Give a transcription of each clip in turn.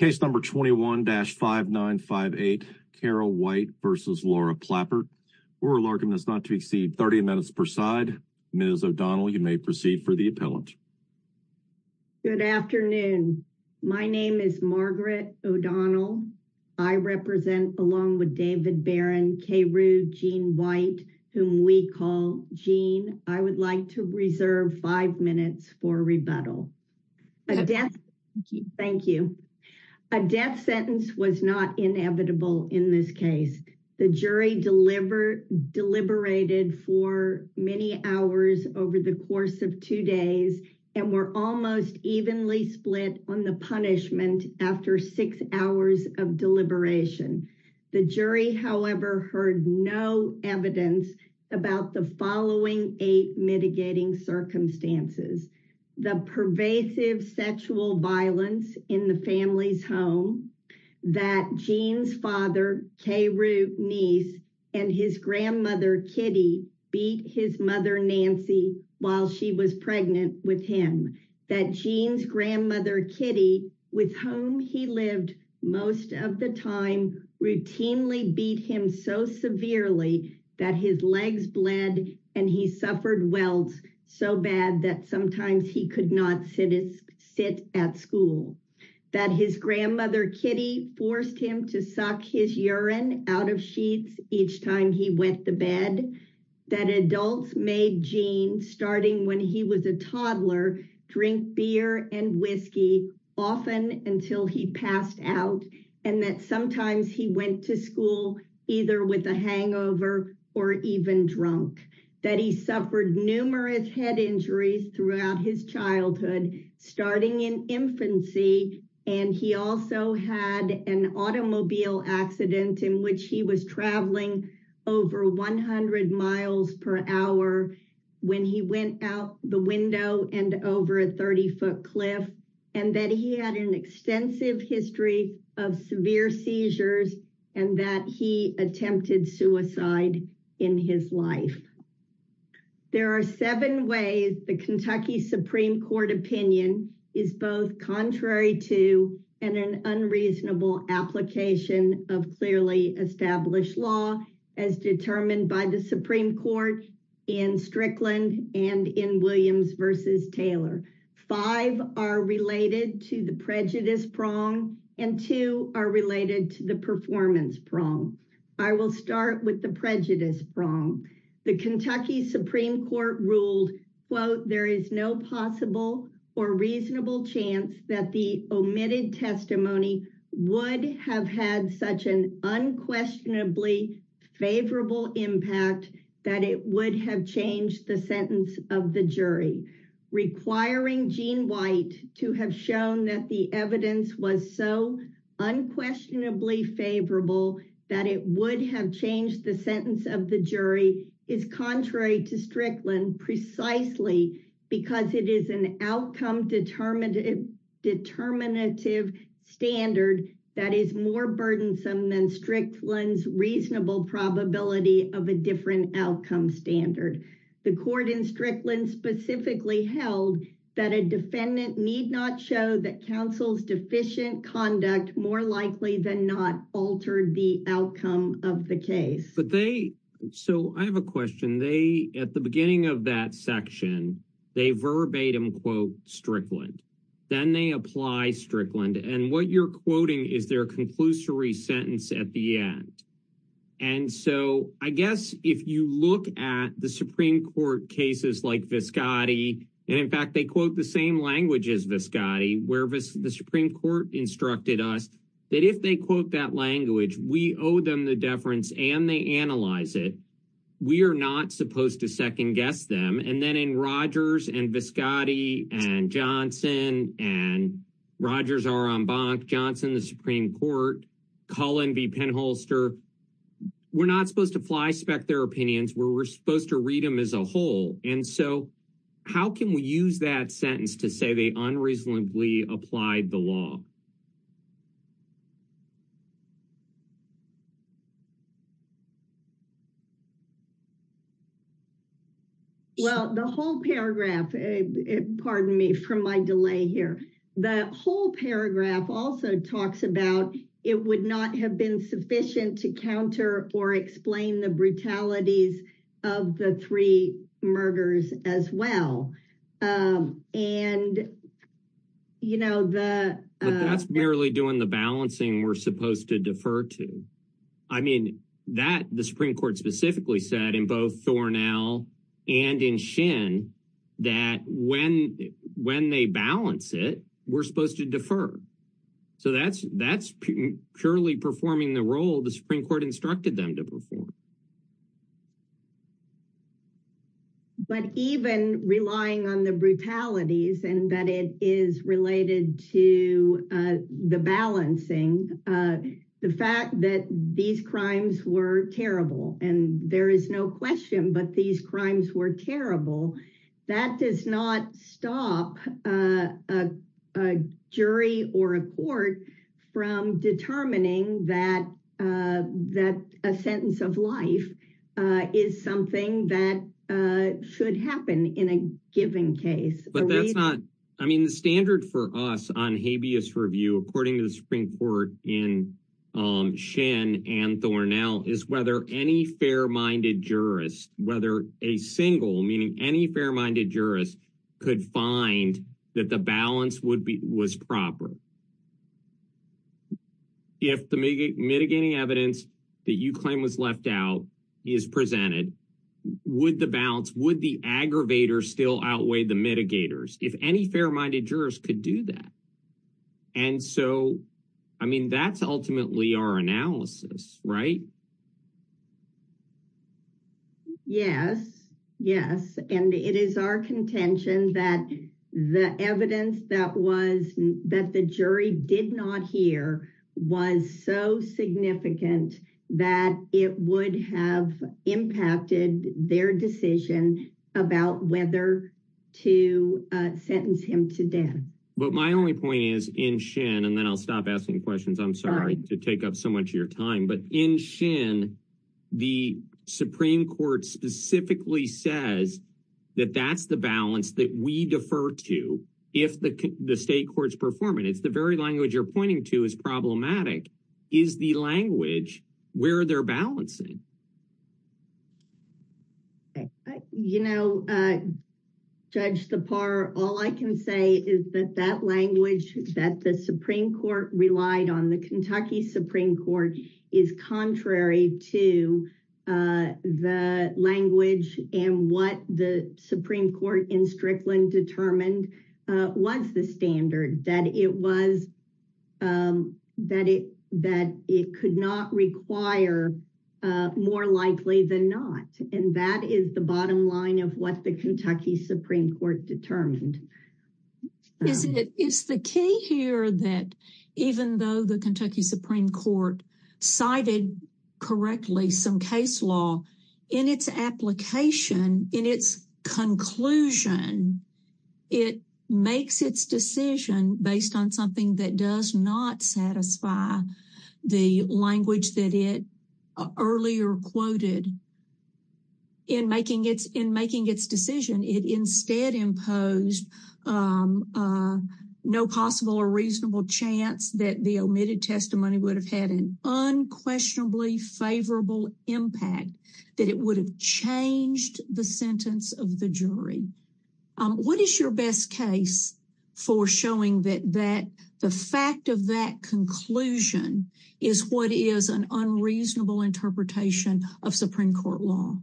Case number 21-5958, Karu White v. Laura Plappert. We're reluctant as not to exceed 30 minutes per side. Ms. O'Donnell, you may proceed for the appellant. Good afternoon. My name is Margaret O'Donnell. I represent, along with David Barron, Karu Jean White, whom we call Jean. I would like to reserve five minutes for rebuttal. Thank you. A death sentence was not inevitable in this case. The jury deliberated for many hours over the course of two days and were almost evenly split on the punishment after six hours of deliberation. The jury, however, heard no evidence about the following eight mitigating circumstances. The pervasive sexual violence in the family's home, that Jean's father, Karu's niece, and his grandmother, Kitty, beat his mother, Nancy, while she was pregnant with him. That Jean's grandmother, Kitty, with whom he lived most of the time, routinely beat him so severely that his legs bled and he suffered welds so bad that sometimes he could not sit at school. That his grandmother, Kitty, forced him to suck his urine out of sheets each time he went to bed. That adults made Jean, starting when he was a toddler, drink beer and whiskey often until he passed out, and that sometimes he went to school either with a hangover or even drunk. That he suffered numerous head injuries throughout his childhood, starting in infancy, and he also had an automobile accident in which he was traveling over 100 miles per hour when he went out the window and over a 30-foot cliff, and that he had an extensive history of severe seizures and that he attempted suicide in his life. There are seven ways the Kentucky Supreme Court opinion is both contrary to and an unreasonable application of clearly established law as determined by the Supreme Court in Strickland and in Williams v. Taylor. Five are related to the prejudice prong and two are related to the performance prong. I will start with the prejudice prong. The Kentucky Supreme Court ruled, quote, there is no possible or reasonable chance that the omitted testimony would have had such an unquestionably favorable impact that it would have changed the sentence of the jury, requiring Gene White to have shown that the evidence was so unquestionably favorable that it would have changed the sentence of the jury, is contrary to Strickland precisely because it is an outcome determinative standard that is more burdensome than Strickland's reasonable probability of a different outcome standard. The court in Strickland specifically held that a defendant need not show that counsel's deficient conduct more likely than not altered the outcome of the case. So I have a question. They, at the beginning of that section, they verbatim quote Strickland. Then they apply Strickland. And what you're quoting is their conclusory sentence at the end. And so I guess if you look at the Supreme Court cases like Viscotti, and in fact they quote the same language as Viscotti, where the Supreme Court instructed us that if they quote that language, we owe them the deference and they analyze it. We are not supposed to second-guess them. And then in Rogers and Viscotti and Johnson and Rogers R. Rombach, Johnson, the Supreme Court, Cullen v. Penholster, we're not supposed to fly-spec their opinions. We're supposed to read them as a whole. And so how can we use that sentence to say they unreasonably applied the law? Well, the whole paragraph, pardon me for my delay here, the whole paragraph also talks about it would not have been sufficient to counter or explain the brutalities of the three murders as well. That's merely doing the balancing we're supposed to defer to. I mean, that, the Supreme Court specifically said, in both Thornall and in Shin, that when they balance it, we're supposed to defer. So that's purely performing the role the Supreme Court instructed them to perform. But even relying on the brutalities and that it is related to the balancing, the fact that these crimes were terrible, and there is no question, but these crimes were terrible, that does not stop a jury or a court from determining that a sentence of life is something that should happen in a given case. But that's not, I mean, the standard for us on habeas review, according to the Supreme Court in Shin and Thornall, is whether any fair-minded jurist, whether a single, meaning any fair-minded jurist, could find that the balance was proper. If the mitigating evidence that you claim was left out is presented, would the balance, would the aggravator still outweigh the mitigators? If any fair-minded jurist could do that. And so, I mean, that's ultimately our analysis, right? Yes, yes. And it is our contention that the evidence that the jury did not hear was so significant that it would have impacted their decision about whether to sentence him to death. But my only point is, in Shin, and then I'll stop asking questions, I'm sorry to take up so much of your time, but in Shin, the Supreme Court specifically says that that's the balance that we defer to if the state courts perform it. It's the very language you're pointing to is problematic. Is the language where they're balancing? You know, Judge Thapar, all I can say is that that language that the Supreme Court relied on, the Kentucky Supreme Court, is contrary to the language and what the Supreme Court in Strickland determined was the standard, that it was, that it could not require more likely than not. And that is the bottom line of what the Kentucky Supreme Court determined. Isn't it, it's the key here that even though the Kentucky Supreme Court cited correctly some case law, in its application, in its conclusion, it makes its decision based on something that does not satisfy the language that it earlier quoted in making its decision. It instead imposed no possible or reasonable chance that the omitted testimony would have had an unquestionably favorable impact, that it would have changed the sentence of the jury. What is your best case for showing that the fact of that conclusion is what is an unreasonable interpretation of Supreme Court law?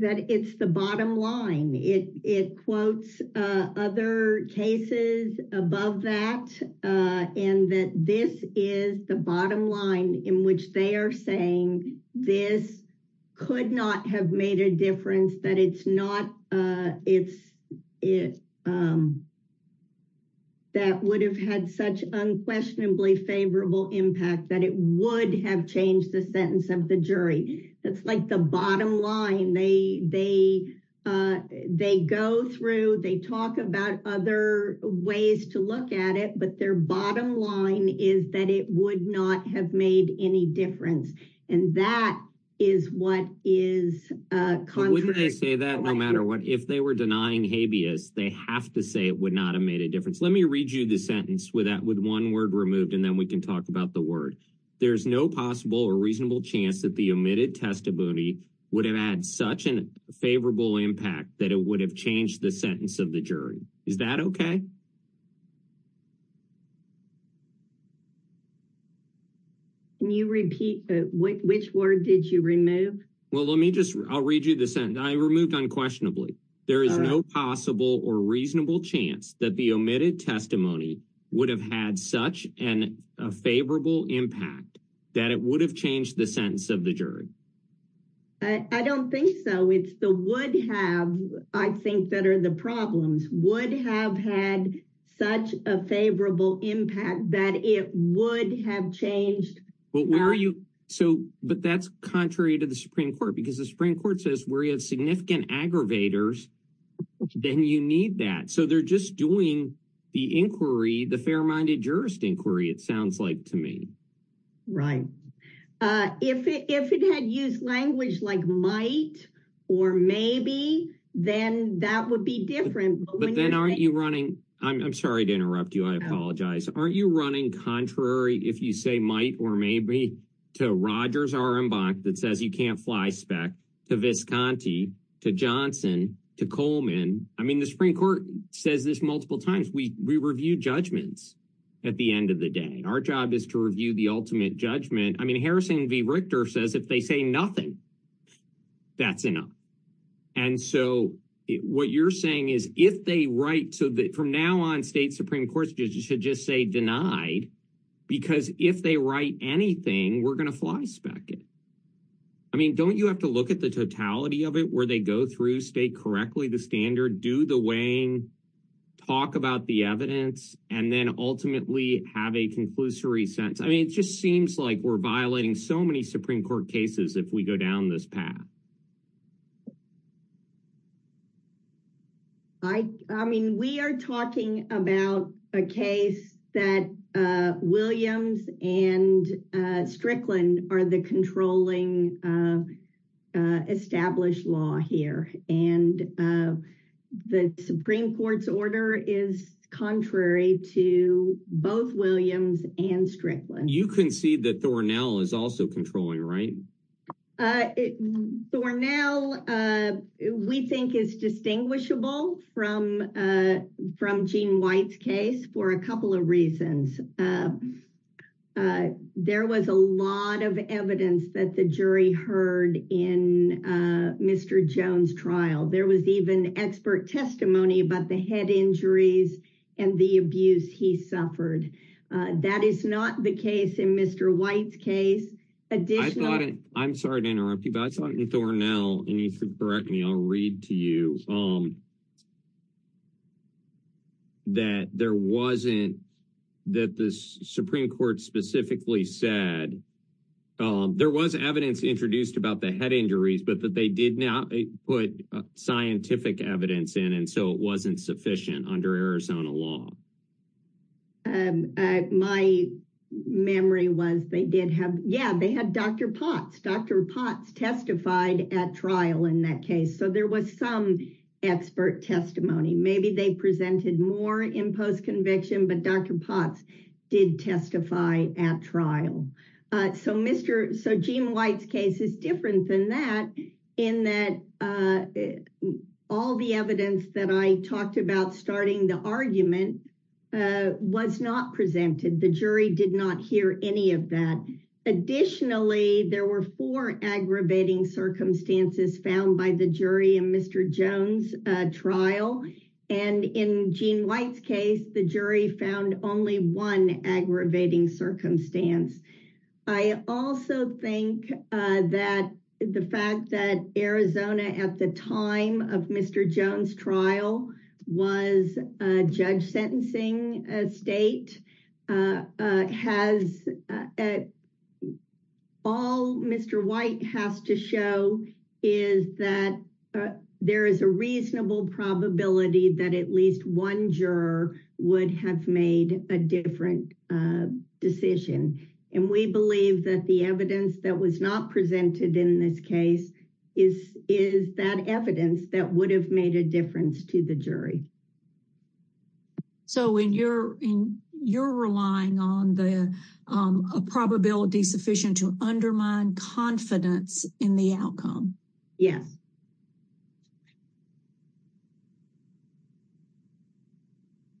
That it's the bottom line. It quotes other cases above that and that this is the bottom line in which they are saying this could not have made a difference, that it's not, that would have had such unquestionably favorable impact, that it would have changed the sentence of the jury. That's like the bottom line. They go through, they talk about other ways to look at it, but their bottom line is that it would not have made any difference. And that is what is contradictory. Wouldn't they say that no matter what? If they were denying habeas, they have to say it would not have made a difference. Let me read you the sentence with one word removed and then we can talk about the word. There's no possible or reasonable chance that the omitted testimony would have had such a favorable impact that it would have changed the sentence of the jury. Is that okay? Can you repeat? Which word did you remove? Well, let me just, I'll read you the sentence. I removed unquestionably. There is no possible or reasonable chance that the omitted testimony would have had such a favorable impact that it would have changed the sentence of the jury. I don't think so. It's the would have, I think, that are the problems. Would have had such a favorable impact that it would have changed. But where are you, but that's contrary to the Supreme Court because the Supreme Court says where you have significant aggravators then you need that. So they're just doing the inquiry, the fair-minded jurist inquiry, it sounds like to me. Right. If it had used language like might or maybe, then that would be different. But then aren't you running, I'm sorry to interrupt you, I apologize. Aren't you running contrary if you say might or maybe to Rogers' R.M. Bach that says you can't fly spec to Visconti, to Johnson, to Coleman. I mean the Supreme Court says this multiple times. We review judgments at the end of the day. Our job is to review the ultimate judgment. I mean Harrison V. Richter says if they say nothing, that's enough. And so what you're saying is if they write, so from now on state Supreme Courts should just say denied because if they write anything, we're going to fly spec it. I mean don't you have to look at the totality of it where they go through, state correctly the standard, do the weighing, talk about the evidence, and then ultimately have a conclusory sentence. I mean it just seems like we're violating so many Supreme Court cases if we go down this path. I mean we are talking about a case that Williams and Strickland are the controlling established law here and the Supreme Court's order is contrary to both Williams and Strickland. You concede that Thornell is also controlling, right? Thornell we think is distinguishable from Gene White's case for a couple of reasons. There was a lot of evidence that the jury heard in Mr. Jones' trial. There was even expert testimony about the head injuries and the abuse he suffered. That is not the case in Mr. White's case. I'm sorry to interrupt you, but I thought in Thornell and you can correct me, I'll read to you that there wasn't that the Supreme Court specifically said there was evidence introduced about the head injuries but that they did not put scientific evidence in and so it wasn't sufficient under Arizona law. My memory was they did have Dr. Potts. Dr. Potts testified at trial in that case, so there was some expert testimony. Maybe they presented more in post conviction, but Dr. Potts did testify at trial. So Mr. Gene White's case is different than that in that all the evidence that I talked about starting the argument was not presented. The jury did not hear any of that. Additionally, there were four aggravating circumstances found by the jury in Mr. Jones' trial and in Gene White's case, the jury found only one aggravating circumstance. I also think that the fact that Arizona at the time of Mr. Jones' trial was a judge sentencing state has all Mr. White has to show is that there is a reasonable probability that at least one juror would have made a different decision and we believe that the evidence that was not presented in this case is that evidence that would have made a difference to the jury. So you're relying on a probability sufficient to undermine confidence in the outcome. Yes.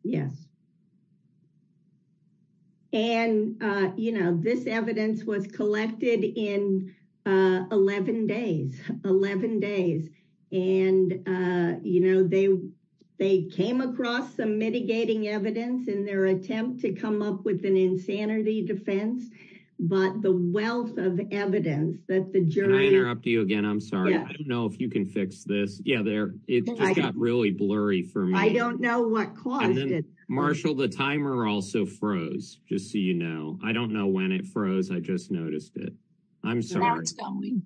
Yes. And, you know, this evidence was collected in 11 days. 11 days. And, you know, they came across some mitigating evidence in their attempt to come up with an insanity defense but the wealth of evidence that the jury Can I interrupt you again? I'm sorry. I don't know if you can fix this. It just got really blurry for me. I don't know what caused it. Marshall, the timer also froze. Just so you know. I don't know when it froze. I just noticed it. Now it's going.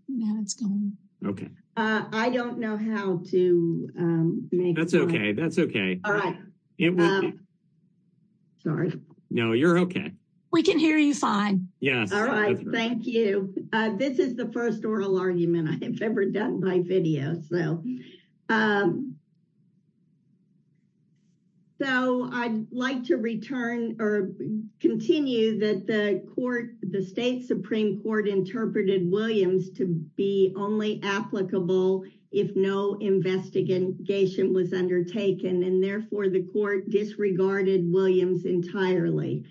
I don't know how to make sense. That's okay. Sorry. No, you're okay. We can hear you fine. Thank you. This is the first oral argument I have ever done my video. So I'd like to return or continue that the court Supreme Court interpreted Williams to be only applicable if no investigation was undertaken and therefore the court disregarded Williams entirely.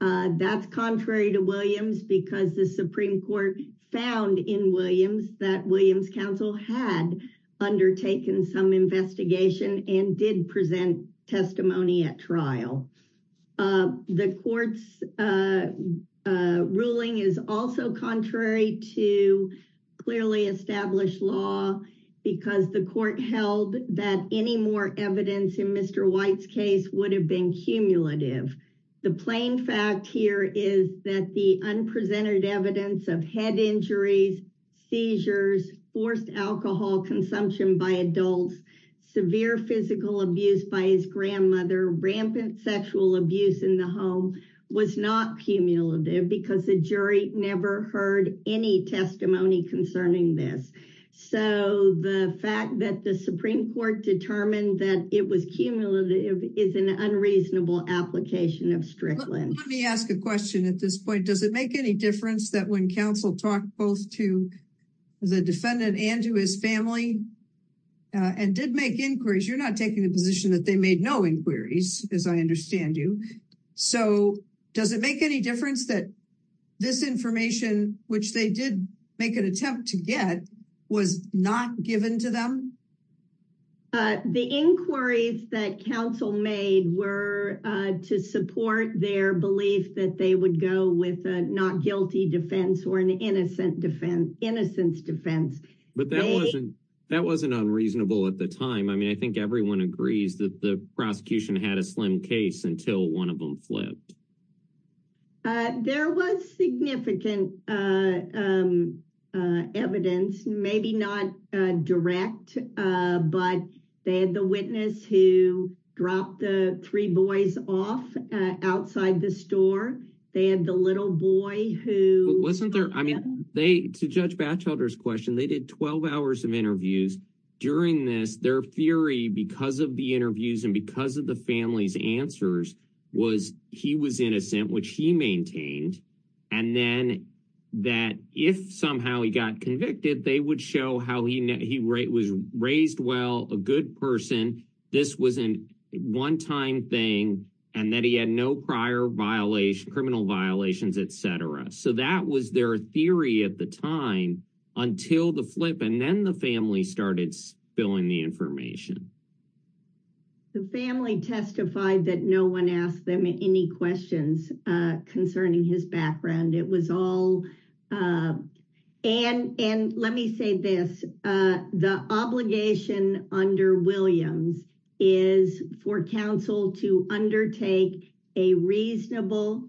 That's contrary to Williams because the Supreme Court found in Williams that Williams counsel had undertaken some investigation and did present testimony at trial. The court's ruling is also contrary to clearly established law because the court held that any more evidence in Mr. White's case would have been cumulative. The plain fact here is that the unpresented evidence of head injuries, seizures, forced alcohol consumption by adults, severe physical abuse by his grandmother, rampant sexual abuse in the home was not cumulative because the jury never heard any testimony concerning this. So the fact that the Supreme Court determined that it was cumulative is an unreasonable application of Strickland. Let me ask a question at this point. Does it make any difference that when counsel talked both to the defendant and to his family and did make inquiries, you're not taking the position that they made no inquiries as I understand you. So does it make any difference that this information which they did make an attempt to get was not given to them? The inquiries that counsel made were to support their belief that they would go with a not guilty defense or an innocent defense, innocence defense. But that wasn't unreasonable at the time. I mean, I think everyone agrees that the prosecution had a slim case until one of them flipped. There was significant evidence maybe not direct but they had the witness who dropped the three boys off outside the store. They had the little boy who wasn't there. I mean, to Judge Batchelder's question, they did 12 hours of interviews during this. Their theory because of the interviews and because of the family's answers was he was innocent, which he maintained and then that if somehow he got convicted they would show how he was raised well, a good person, this was a one-time thing and that he had no prior criminal violations, etc. So that was their theory at the time until the flip and then the family started spilling the information. The family testified that no one asked them any questions concerning his background. It was all and let me say this, the obligation under Williams is for counsel to undertake a reasonable,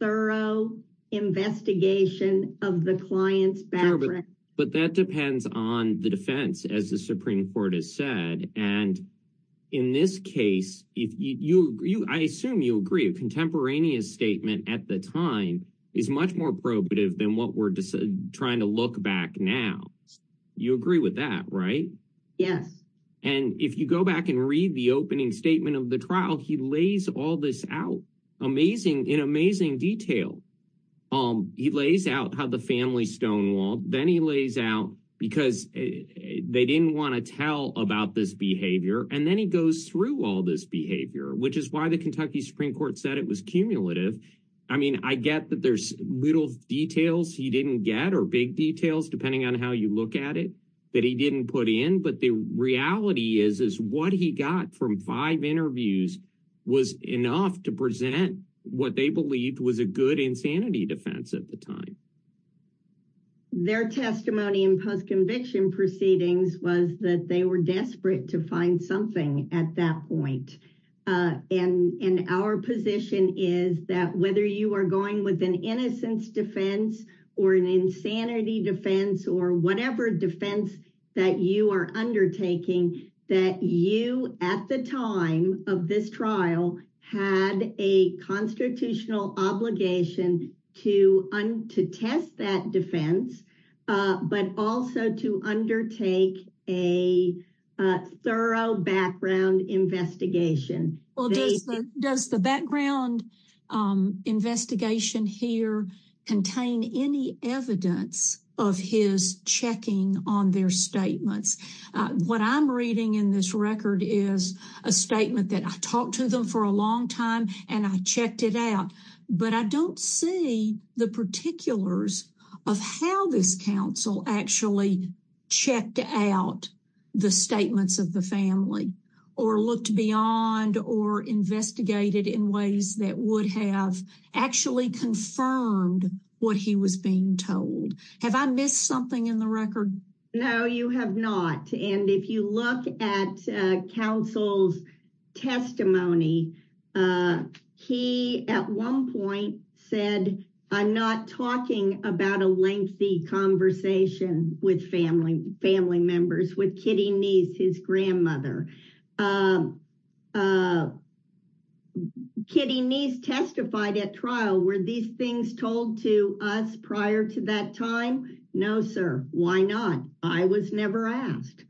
thorough investigation of the client's background. But that depends on the defense as the Supreme Court has said and in this case I assume you agree a contemporaneous statement at the time is much more probative than what we're trying to look back now. You agree with that, right? Yes. And if you go back and read the opening statement of the trial he lays all this out in amazing detail. He lays out how the family stonewalled, then he lays out because they didn't want to tell about this behavior and then he goes through all this behavior which is why the Kentucky Supreme Court said it was cumulative. I mean, I get that there's little details he didn't get or big details depending on how you look at it that he didn't put in but the reality is what he got from five interviews was enough to present what they believed was a good insanity defense at the time. Their testimony in post-conviction proceedings was that they were desperate to find something at that point and our position is that whether you are going with an innocence defense or an insanity defense or whatever defense that you are undertaking that you at the time of this trial had a constitutional obligation to test that defense but also to undertake a thorough background investigation. Does the background investigation here contain any evidence of his checking on their statements? What I'm reading in this record is a statement that I talked to them for a long time and I checked it out but I don't see the particulars of how this council actually checked out the statements of the family or looked beyond or investigated in ways that would have actually confirmed what he was being told. Have I missed something in the record? No, you have not and if you look at counsel's testimony, he at one point said I'm not talking about a lengthy conversation with family members with Kitty Neese, his Kitty Neese testified at trial were these things told to us prior to that time? No, sir. Why not? I was never asked.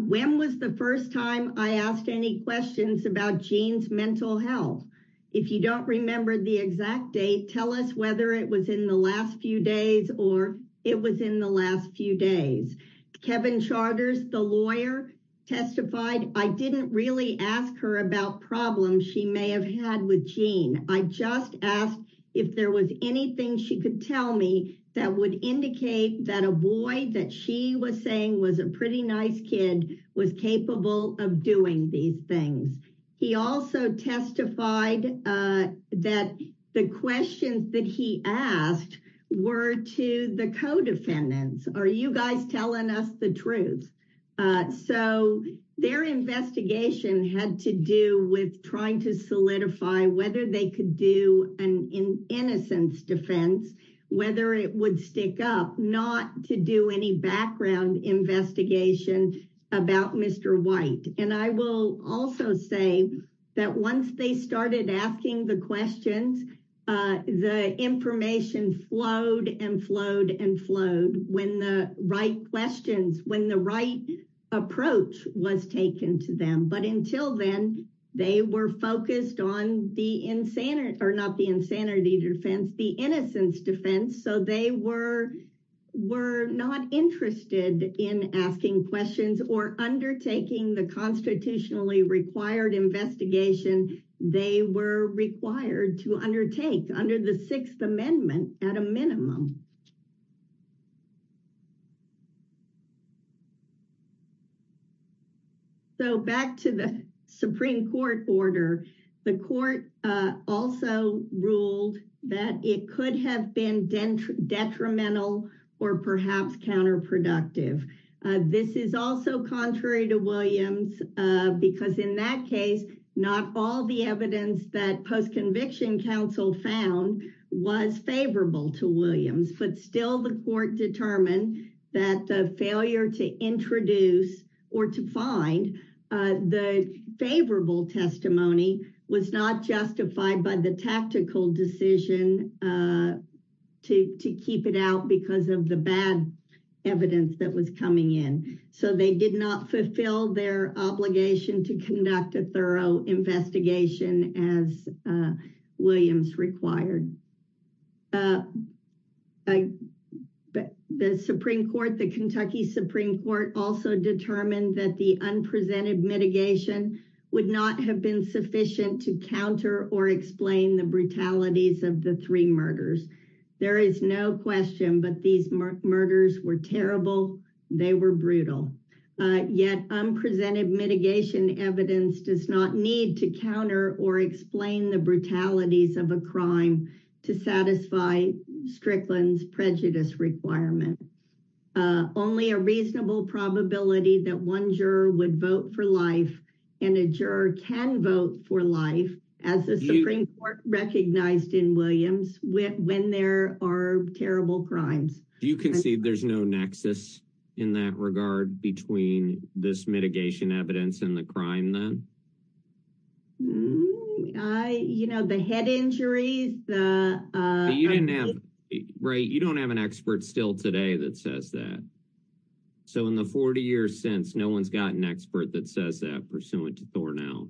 When was the first time I asked any questions about Gene's mental health? If you don't remember the exact date, tell us whether it was in the last few days or it was in the last few days. Kevin Charters, the lawyer, testified I didn't really ask her about problems she may have had with Gene. I just asked if there was anything she could tell me that would indicate that a boy that she was saying was a pretty nice kid was capable of doing these things. He also testified that the questions that he asked were to the co-defendants. Are you guys telling us the truth? So their investigation had to do with trying to solidify whether they could do an innocence defense, whether it would stick up, not to do any background investigation about Mr. White. I will also say that once they started asking the questions, the information flowed and flowed and flowed when the right questions, when the right approach was taken to them. But until then, they were focused on the insanity, or not the insanity defense, the innocence defense. So they were not interested in asking questions or undertaking the constitutionally required investigation they were required to undertake under the Sixth Amendment at a minimum. So back to the Supreme Court order, the court also ruled that it could have been detrimental or perhaps counterproductive. This is also contrary to Williams because in that case, not all the evidence that post-conviction counsel found was favorable to Williams, but still the court determined that the failure to introduce or to find the favorable testimony was not justified by the tactical decision to keep it out because of the bad evidence that was coming in. So they did not fulfill their obligation to conduct a thorough investigation as Williams required. The Supreme Court, the Kentucky court ruled that the unprecedented mitigation would not have been sufficient to counter or explain the brutalities of the three murders. There is no question but these murders were terrible, they were brutal. Yet, unprecedented mitigation evidence does not need to counter or explain the brutalities of a crime to satisfy Strickland's prejudice requirement. Only a reasonable probability that one juror would vote for life and a juror can vote for life as the Supreme Court recognized in Williams when there are terrible crimes. Do you concede there's no nexus in that regard between this mitigation evidence and the crime then? You know, the head injuries, the... You don't have an expert still today that says that. So in the 40 years since, no one's got an expert that says that pursuant to Thornell.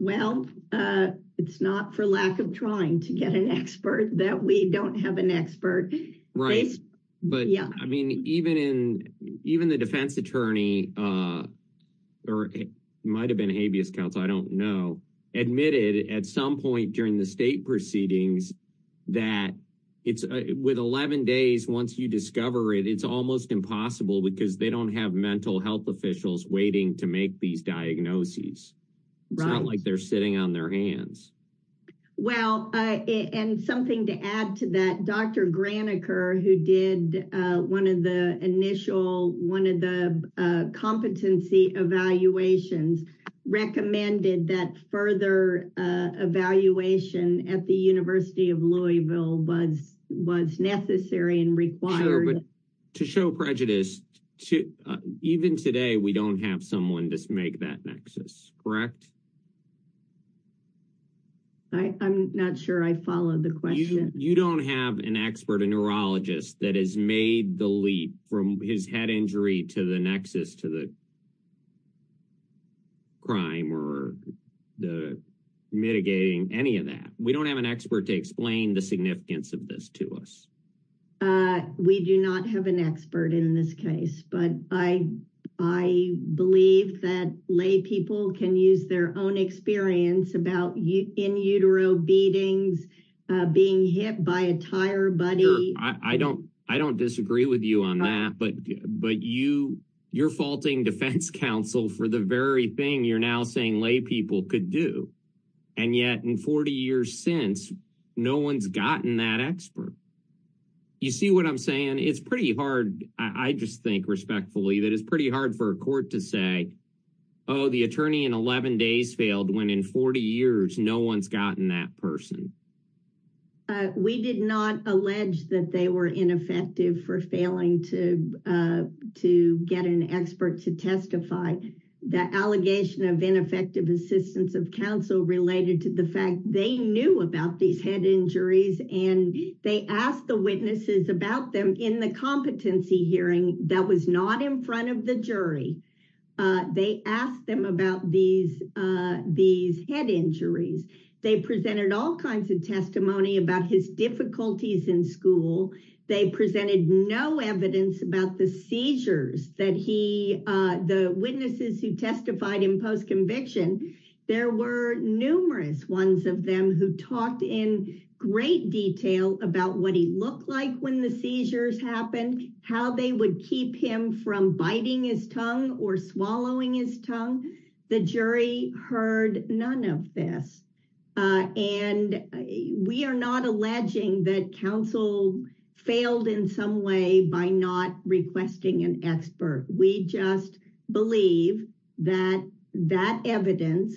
Well, it's not for lack of trying to get an expert that we don't have an expert. Right, but I mean even the defense attorney or it might have been habeas counsel, I don't know, admitted at some point during the state proceedings that with 11 days once you discover it, it's almost impossible because they don't have mental health officials waiting to make these diagnoses. It's not like they're sitting on their hands. Well, and something to add to that, Dr. Graniker, who did one of the initial, one of the competency evaluations, recommended that further evaluation at the University of Louisville was necessary and required. Sure, but to show prejudice, even today we don't have someone to make that nexus, correct? I'm not sure I followed the question. You don't have an expert, a neurologist that has made the leap from his head injury to the nexus to the crime or mitigating any of that. We don't have an expert to explain the significance of this to us. We do not have an expert in this case, but I believe that lay people can use their own experience about in utero beatings, being hit by a tire buddy. I don't disagree with you on that, but you're faulting defense counsel for the very thing you're now saying lay people could do, and yet in 40 years since, no one's gotten that expert. You see what I'm saying? It's pretty hard, I just think respectfully, that it's pretty hard for a court to say, oh, the attorney in 11 days failed when in 40 years no one's gotten that person. We did not allege that they were ineffective for failing to get an expert to testify. The allegation of ineffective assistance of counsel related to the fact they knew about these head injuries, and they asked the witnesses about them in the competency hearing that was not in front of the jury. They asked them about these head injuries. They presented all kinds of testimony about his difficulties in school. They presented no evidence about the seizures that he, the witnesses who testified in post conviction, there were numerous ones of them who talked in great detail about what he looked like when the seizures happened, how they would keep him from biting his tongue or swallowing his tongue. The jury heard none of this, and we are not alleging that counsel failed in some way by not requesting an expert. We just believe that evidence,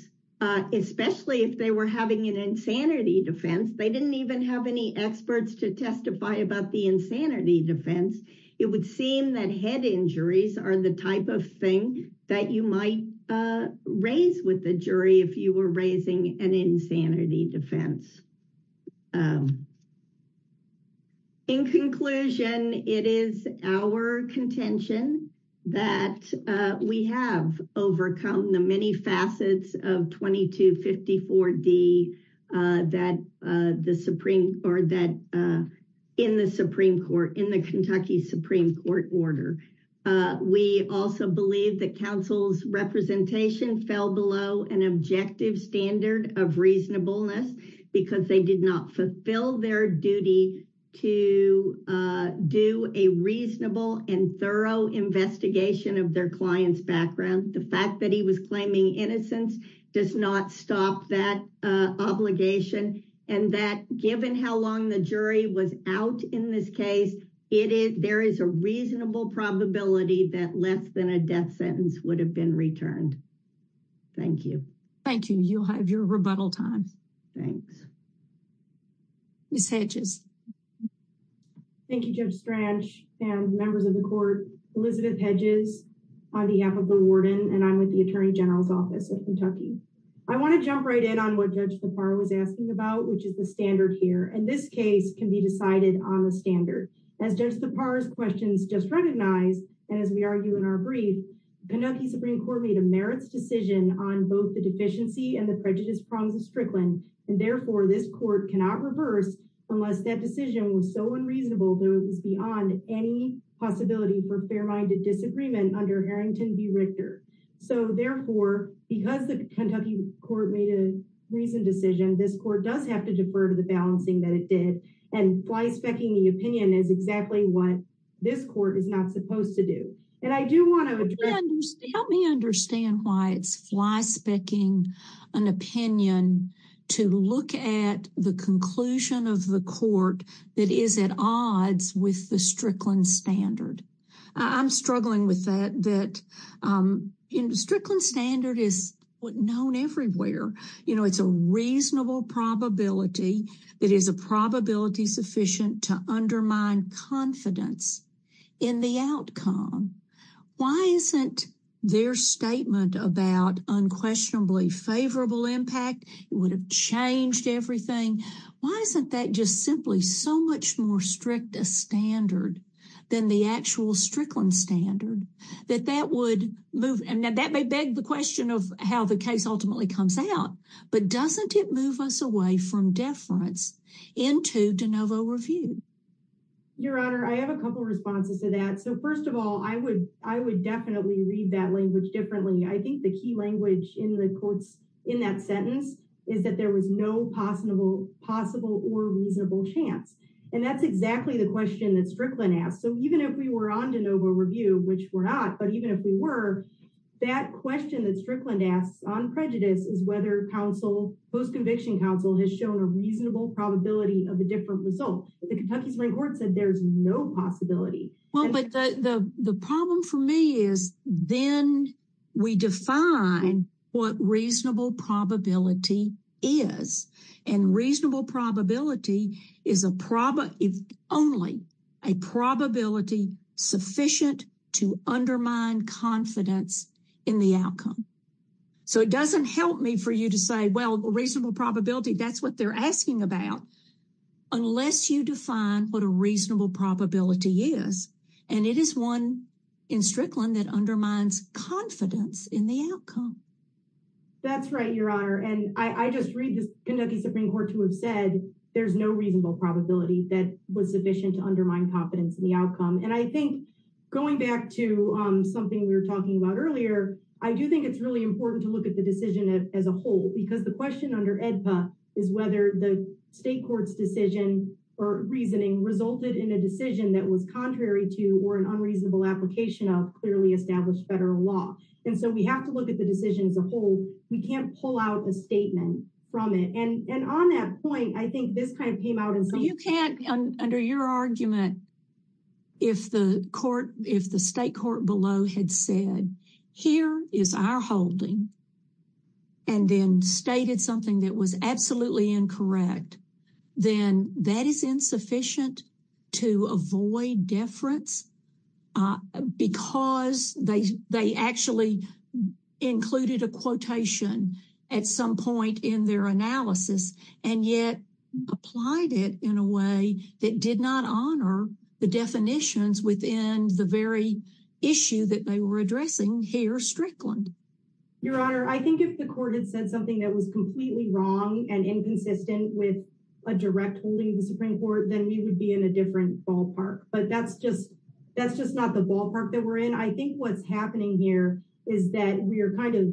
especially if they were having an insanity defense, they didn't even have any experts to testify about the insanity defense, it would seem that head injuries are the type of thing that you might raise with the jury if you were raising an insanity defense. In conclusion, it is our contention that we have overcome the many facets of 2254D that in the Supreme Court, in the Kentucky Supreme Court order. We also believe that counsel's representation fell below an objective standard of reasonableness, because they did not fulfill their duty to do a reasonable and thorough investigation of their client's background. The fact that he was claiming innocence does not stop that obligation, and that given how long the jury was out in this case, there is a reasonable probability that less than a death sentence would have been returned. Thank you. Thank you. You'll have your rebuttal time. Thanks. Ms. Hedges. Thank you, Judge Strach and members of the court. Elizabeth Hedges on behalf of the warden, and I'm with the Attorney General's Office of Kentucky. I want to jump right in on what Judge Thapar was asking about, which is the standard here, and this case can be decided on the standard. As Judge Thapar's questions just recognized, and as we argue in our brief, Kentucky Supreme Court made a merits decision on both the deficiency and the prejudice prongs of Strickland, and therefore, this court cannot reverse unless that decision was so unreasonable that it was beyond any possibility for fair-minded disagreement under Harrington v. Richter. So therefore, because the Kentucky Court made a reasoned decision, this court does have to defer to the balancing that it did, and fly-specking the opinion is exactly what this court is not supposed to do. And I do want to address... Let me understand why it's fly-specking an opinion to look at the conclusion of the court that is at odds with the Strickland standard. I'm struggling with that. The Strickland standard is known everywhere. You know, it's a reasonable probability that is a probability sufficient to undermine confidence in the outcome. Why isn't their statement about unquestionably favorable impact would have changed everything? Why isn't that just simply so much more strict a standard than the actual Strickland standard, that that would move... And that may beg the question of how the case ultimately comes out, but doesn't it move us away from deference into de novo review? Your Honor, I have a couple responses to that. So first of all, I would definitely read that language differently. I think the key language in the courts in that sentence is that there was no possible or reasonable chance. And that's exactly the question that Strickland asked. So even if we were on de novo review, which we're not, but even if we were, that question that Strickland asked on prejudice is whether post-conviction counsel has shown a reasonable probability of a different result. But the Kentucky Supreme Court said there's no possibility. Well, but the problem for me is then we define what reasonable probability is. And reasonable probability is only a probability sufficient to undermine confidence in the outcome. So it doesn't help me for you to say, well, reasonable probability, that's what they're asking about unless you define what a reasonable probability is. And it is one in Strickland that undermines confidence in the outcome. That's right, Your Honor. And I just read the Kentucky Supreme Court to have said there's no reasonable probability that was sufficient to undermine confidence in the outcome. And I think going back to something we were talking about earlier, I do think it's really important to look at the decision as a whole because the question under is whether the state court's decision or reasoning resulted in a decision that was contrary to or an unreasonable application of clearly established federal law. And so we have to look at the decision as a whole. We can't pull out a statement from it. And on that point, I think this kind of came out in some... You can't, under your argument, if the court, if the state court below had said, here is our holding, and then stated something that was absolutely incorrect, then that is insufficient to avoid deference because they actually included a quotation at some point in their analysis and yet applied it in a way that did not honor the definitions within the very issue that they were addressing here strictly. Your Honor, I think if the court had said something that was completely wrong and inconsistent with a direct holding of the Supreme Court, then we would be in a different ballpark. But that's just not the ballpark that we're in. I think what's happening here is that we're kind of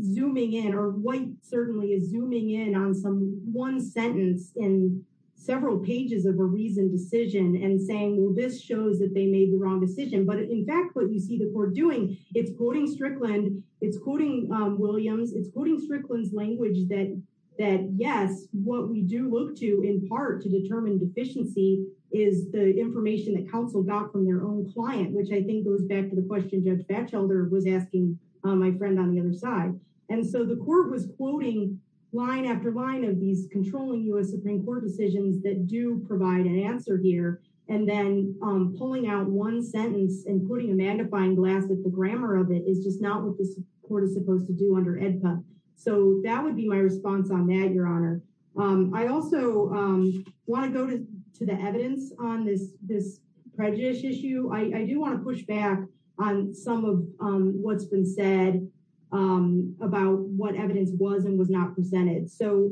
zooming in, or White certainly is zooming in on some one sentence in several pages of a reasoned decision and saying, well, this shows that they made the wrong decision. But, in fact, what you see the court doing, it's quoting Strickland, it's quoting Williams, it's quoting Strickland's language that yes, what we do look to, in part, to determine deficiency is the information that counsel got from their own client, which I think goes back to the question Judge Batchelder was asking my friend on the other side. And so the court was quoting line after line of these controlling U.S. Supreme Court decisions that do provide an answer here and then pulling out one sentence and putting a magnifying glass at the grammar of it is just not what this court is supposed to do under EDPA. So that would be my response on that, Your Honor. I also want to go to the evidence on this prejudice issue. I do want to push back on some of what's been said about what evidence was and was not presented. So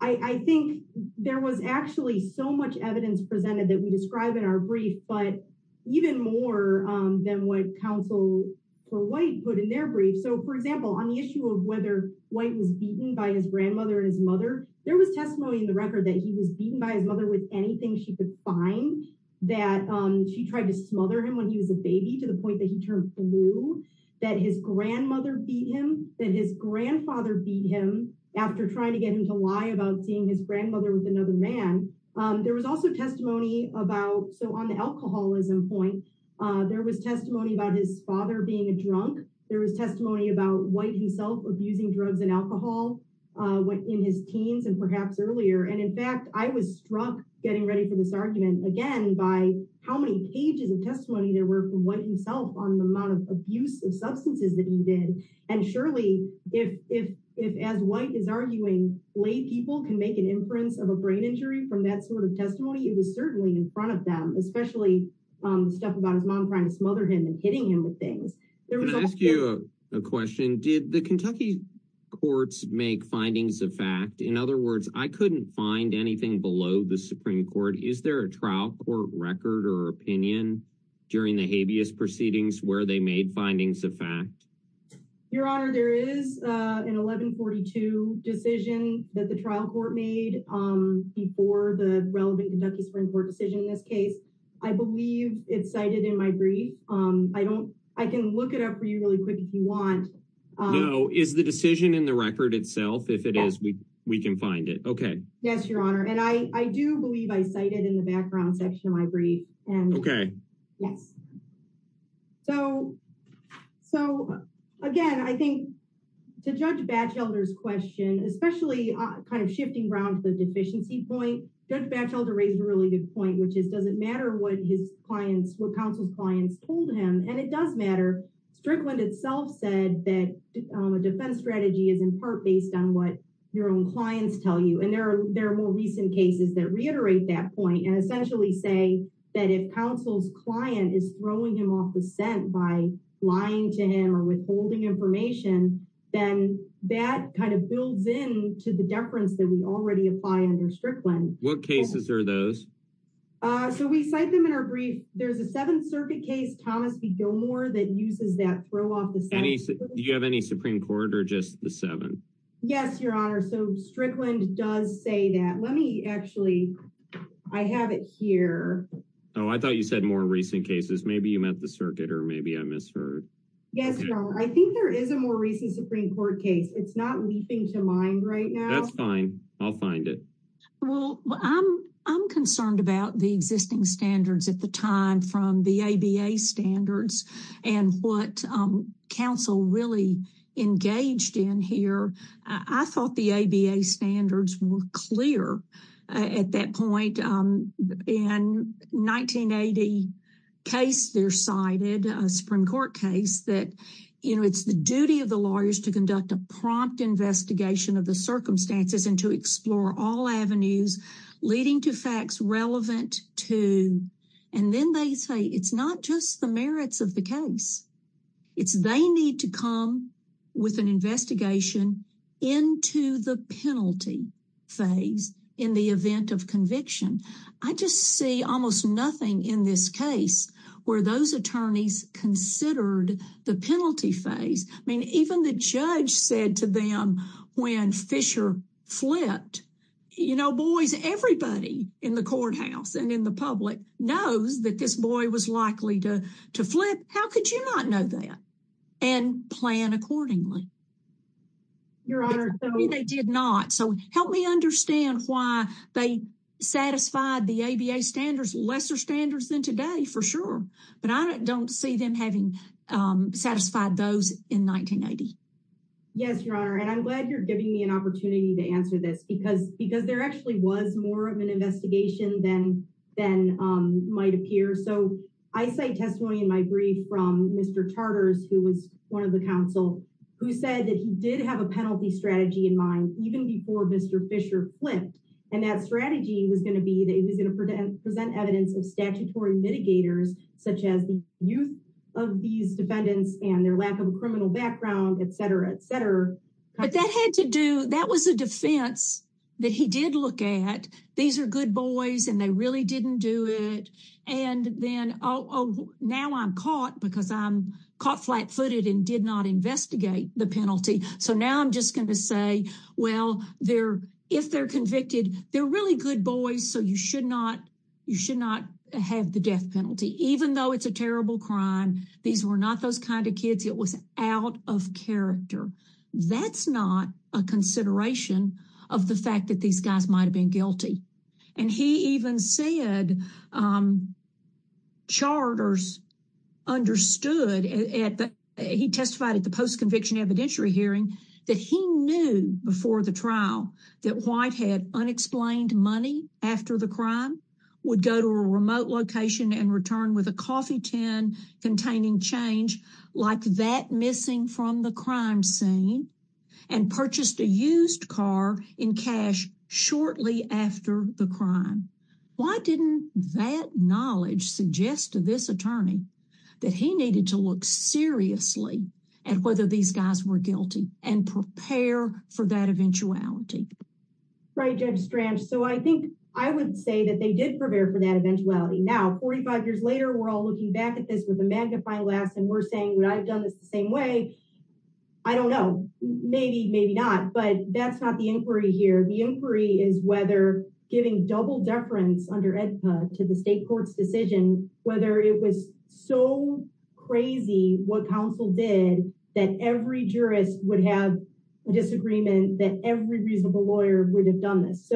I think there was actually so much evidence presented that we describe in our brief, but even more than what counsel for White put in their brief. So, for example, on the issue of whether White was beaten by his grandmother and his mother, there was testimony in the record that he was beaten by his mother with anything she could find, that she tried to smother him when he was a baby to the point that he turned blue, that his grandmother beat him, that his grandfather beat him after trying to get him to lie about seeing his grandmother with another man. There was also testimony about, so on the alcoholism point, there was testimony about his father being a drunk. There was testimony about White himself abusing drugs and alcohol in his teens and perhaps earlier. And, in fact, I was struck getting ready for this argument, again, by how many pages of testimony there were from White himself on the amount of abuse of substances that he did. And, surely, if as White is arguing, lay people can make an inference of a brain injury from that sort of testimony, it was certainly in front of them, especially stuff about his mom trying to smother him and hitting him with things. Can I ask you a question? Did the Kentucky courts make findings of fact? In other words, I couldn't find anything below the Supreme Court. Is there a trial court record or opinion during the habeas proceedings where they made findings of fact? Your Honor, there is an 1142 decision that the trial court made before the relevant Kentucky Supreme Court decision in this case. I believe it's cited in my brief. I can look it up for you really quick if you want. Is the decision in the record itself? If it is, we can find it. Yes, Your Honor. And I do believe I cite it in the background section of my brief. Okay. Yes. So, again, I think to Judge Batchelder's question, especially kind of shifting around to the deficiency point, Judge Batchelder raised a really good point, which is does it matter what his clients, what counsel's clients told him? And it does matter. Strickland itself said that a defense strategy is in part based on what your own clients tell you. And there are more recent cases that reiterate that point and essentially say that if counsel's client is throwing him off the scent by lying to him or withholding information, then that kind of builds in to the deference that we already apply under Strickland. What cases are those? So, we cite them in our brief. There's a Seventh Circuit case, Thomas v. Gilmore that uses that throw off the scent. Do you have any Supreme Court or just the seven? Yes, Your Honor. So, Strickland does say that. Let me actually... I have it here. I thought you said more recent cases. Maybe you meant the circuit or maybe I misheard. Yes, Your Honor. I think there is a more recent Supreme Court case. It's not leaping to mind right now. That's fine. I'll find it. I'm concerned about the existing standards at the time from the ABA standards and what counsel really engaged in here. I thought the ABA standards were clear at that point. In 1980 case they're cited, a Supreme Court case that it's the duty of the lawyers to conduct a prompt investigation of the circumstances and to explore all avenues leading to facts relevant to... And then they say it's not just the merits of the case. It's they need to come with an investigation into the penalty phase in the event of conviction. I just see almost nothing in this case where those attorneys considered the penalty phase. I mean, even the judge said to them when Fisher flipped, you know, boys, everybody in the courthouse and in the public knows that this boy was likely to flip. How could you not know that? And plan accordingly. Your Honor, they did not. Help me understand why they satisfied the ABA standards, lesser standards than today for sure. But I don't see them having satisfied those in 1980. Yes, Your Honor. And I'm glad you're giving me an opportunity to answer this because there actually was more of an investigation than might appear. So I say testimony in my brief from Mr. Charters, who was one of the counsel, who said that he did have a penalty strategy in mind, even before Mr. Fisher flipped. And that strategy was going to be that he was going to present evidence of statutory mitigators, such as the youth of these defendants and their lack of a criminal background, etc., etc. But that had to do, that was a defense that he did look at. These are good boys and they really didn't do it. And then, oh, now I'm caught because I'm caught flat-footed and did not investigate the penalty. So now I'm just going to say, well, if they're convicted, they're really good boys, so you should not have the death penalty, even though it's a terrible crime. These were not those kind of kids. It was out of character. That's not a consideration of the fact that these guys might have been guilty. And he even said charters understood he testified at the post-conviction evidentiary hearing that he knew before the trial that White had unexplained money after the crime, would go to a remote location and return with a coffee tin containing change like that missing from the crime scene, and purchased a used car in cash shortly after the crime. Why didn't that knowledge suggest to this attorney that he needed to look seriously at whether these guys were guilty and prepare for that eventuality? Right, Judge Strange. So I think I would say that they did prepare for that eventuality. Now, 45 years later, we're all looking back at this with a magnifying glass and we're saying, would I have done this the same way? I don't know. Maybe, maybe not. But that's not the inquiry here. The inquiry is whether giving double deference under EDPA to the state court's decision, whether it was so crazy what counsel did that every jurist would have a disagreement that every reasonable lawyer would have done this.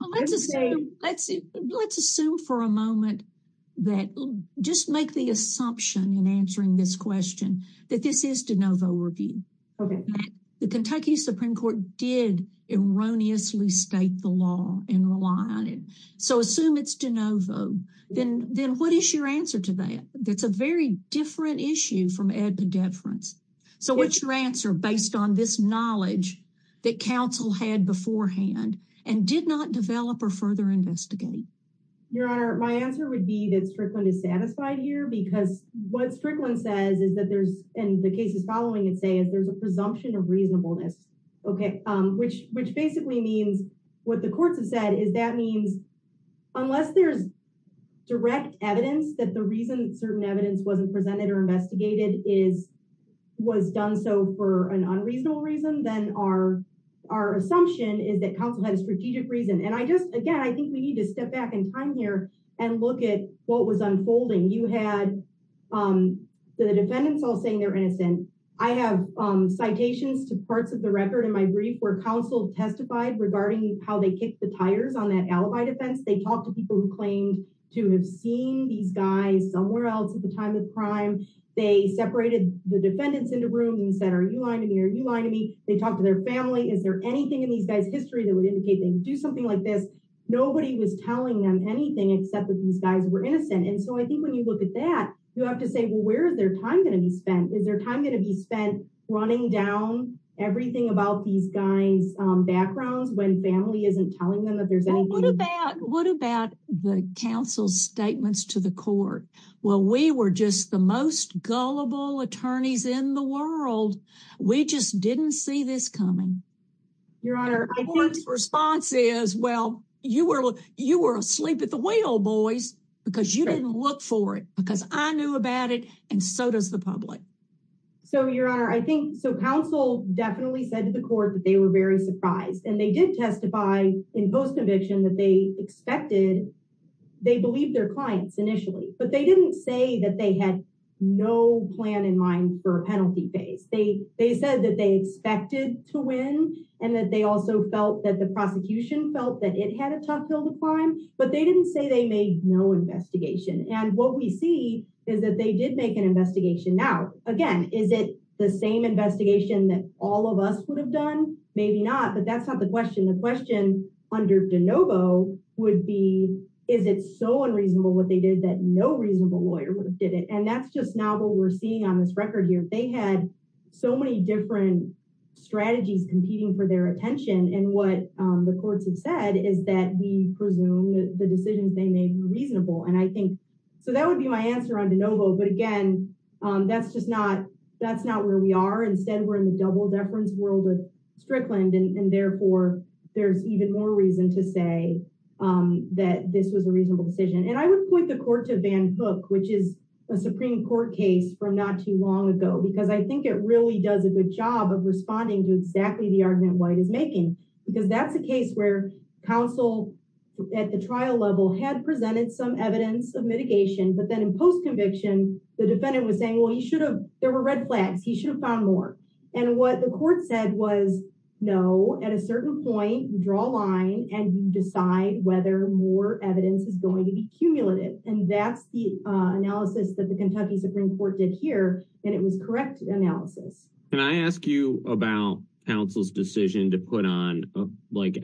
Let's assume for a moment that, just make the assumption in answering this question, that this is de novo review. The Kentucky Supreme Court did erroneously state the law and rely on it. So assume it's de novo. Then what is your answer to that? That's a very different issue from EDPA deference. So what's your answer based on this knowledge that counsel had beforehand and did not develop or further investigate? Your Honor, my answer would be that Strickland is satisfied here because what Strickland says is that there's, and the cases following it say there's a presumption of reasonableness, which basically means what the courts have said is that means unless there's direct evidence that the reason certain evidence wasn't presented or investigated is was done so for an unreasonable reason, then our assumption is that counsel had a strategic reason. And I just, again, I think we need to step back in time here and look at what was unfolding. You had the defendants all saying they're innocent. I have citations to parts of the record in my brief where counsel testified regarding how they kicked the tires on that alibi defense. They talked to people who claimed to have seen these guys somewhere else at the time of the crime. They separated the defendants into rooms and said, are you lying to me? Are you lying to me? They talked to their family. Is there anything in these guys' history that would indicate they'd do something like this? Nobody was telling them anything except that these guys were innocent. And so I think when you look at that, you have to say, well, where is their time going to be spent? Is their time going to be spent running down everything about these guys' backgrounds when family isn't telling them that there's anything? What about the counsel's statements to the court? Well, we were just the most gullible attorneys in the world. We just didn't see this coming. Your Honor, I think the response is well, you were asleep at the wheel, boys, because you didn't look for it, because I knew about it, and so does the public. So, Your Honor, I think counsel definitely said to the court that they were very surprised, and they did testify in post-conviction that they expected. They believed their clients initially, but they didn't say that they had no plan in mind for a penalty case. They said that they expected to win, and that they also felt that the prosecution felt that it had a tough hill to climb, but they didn't say they made no investigation, and what we see is that they did make an investigation. Now, again, is it the same investigation that all of us would have done? Maybe not, but that's not the question. The question under DeNovo would be is it so unreasonable what they did that no reasonable lawyer would have did it, and that's just now what we're seeing on this record here. They had so many different strategies competing for their attention, and what the courts have said is that we presume the decisions they made were reasonable, and I think so that would be my answer on DeNovo, but again, that's just not where we are. Instead, we're in the double-deference world of Strickland, and therefore, there's even more reason to say that this was a reasonable decision, and I would point the court to Van Hook, which is a Supreme Court case from not too long ago, because I think it really does a good job of responding to exactly the argument White is making because that's a case where counsel at the trial level had presented some evidence of mitigation, but then in post-conviction, the defendant was saying, well, there were red flags. He should have found more, and what the court said was no. At a certain point, draw a line, and you decide whether more evidence is going to be cumulative, and that's the analysis that the Kentucky Supreme Court did here, and it was correct analysis. Can I ask you about counsel's decision to put on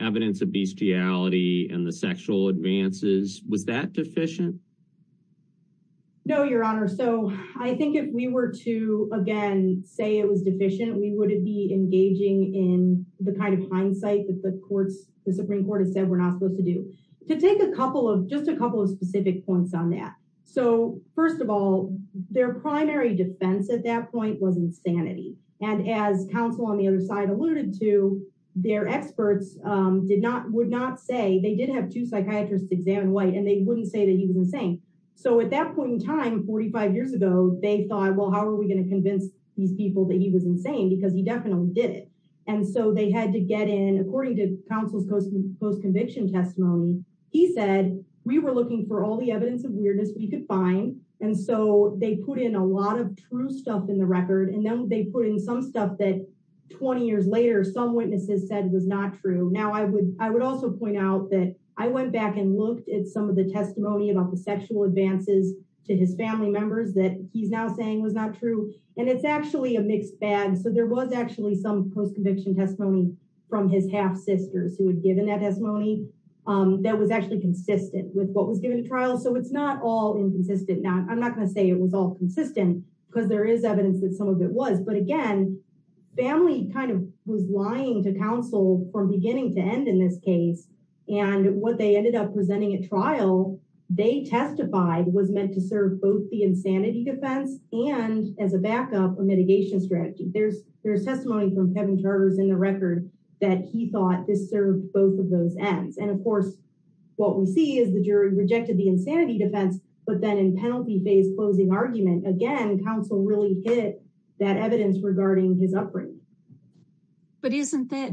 evidence of bestiality and the sexual advances? Was that deficient? No, Your Honor. I think if we were to, again, say it was deficient, we would be engaging in the kind of hindsight that the Supreme Court has said we're not supposed to do. To take just a couple of specific points on that. First of all, their primary defense at that point was insanity, and as counsel on the other side alluded to, their experts would not say they did have two psychiatrists examine White, and they wouldn't say that he was insane. At that point in time, 45 years ago, they thought, well, how are we going to convince these people that he was insane, because he definitely did it, and so they had to get in. According to counsel's post-conviction testimony, he said, we were looking for all the evidence of weirdness we could find, and so they put in a lot of true stuff in the record, and then they put in some stuff that 20 years later, some witnesses said was not true. Now, I would also point out that I went back and looked at some of the testimony about the sexual advances to his family members that he's now saying was not true, and it's actually a mixed bag, so there was actually some post-conviction testimony from his half-sisters who had given that testimony that was actually consistent with what was given to trials, so it's not all inconsistent. I'm not going to say it was all consistent because there is evidence that some of it was, but again, family kind of was lying to counsel from beginning to end in this case, and what they ended up presenting at trial, they testified was meant to serve both the insanity defense and, as a backup, a mitigation strategy. There's testimony from Kevin Charters in the record that he thought this served both of those ends, and, of course, what we see is the jury rejected the insanity defense, but then in penalty phase closing argument, again, counsel really hid that evidence regarding his upbringing. But isn't that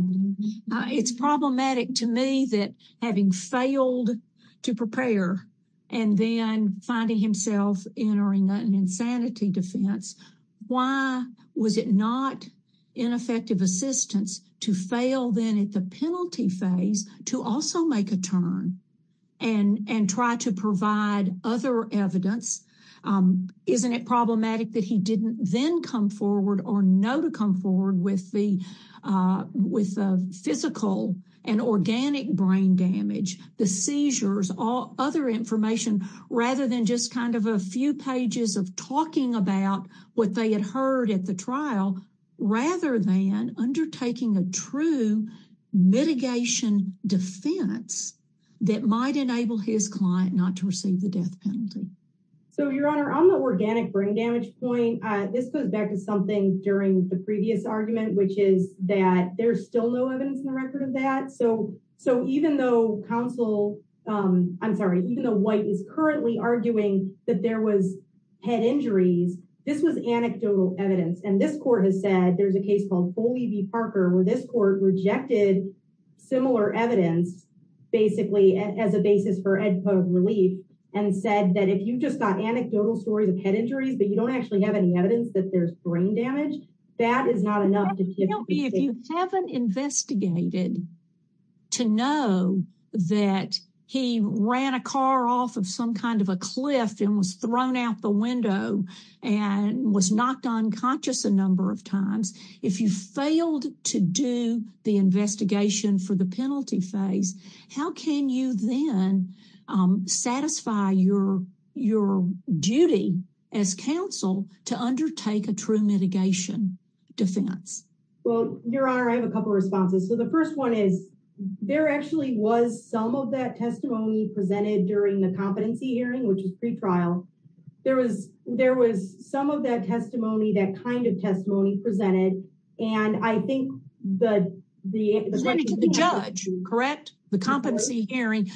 it's problematic to me that having failed to prepare and then finding himself entering an insanity defense, why was it not ineffective assistance to fail then at the penalty phase to also make a turn and try to provide other evidence? Isn't it problematic that he didn't then come forward or know to come forward with the physical and organic brain damage, the seizures, all other information, rather than just kind of a few pages of talking about what they had heard at the trial, rather than undertaking a true mitigation defense that might enable his client not to receive the death penalty? Your Honor, on the organic brain damage point, this goes back to something during the previous argument, which is that there's still no evidence in the record of that, so even though counsel, I'm sorry, even though White is currently arguing that there was head injuries, this was anecdotal evidence, and this court has said, there's a case called Foley v. Parker where this court rejected similar evidence basically as a basis for relief and said that if you just got anecdotal stories of head injuries, but you don't actually have any evidence that there's brain damage, that is not enough. If you haven't investigated to know that he ran a car off of some kind of a cliff and was thrown out the window and was knocked unconscious a number of times, if you failed to do the investigation for the penalty phase, how can you then satisfy your duty as counsel to undertake a true mitigation defense? Your Honor, I have a couple of responses. The first one is, there actually was some of that testimony presented during the competency hearing, which is pretrial. There was some of that testimony, that kind of testimony presented, and I think the... Correct? The competency hearing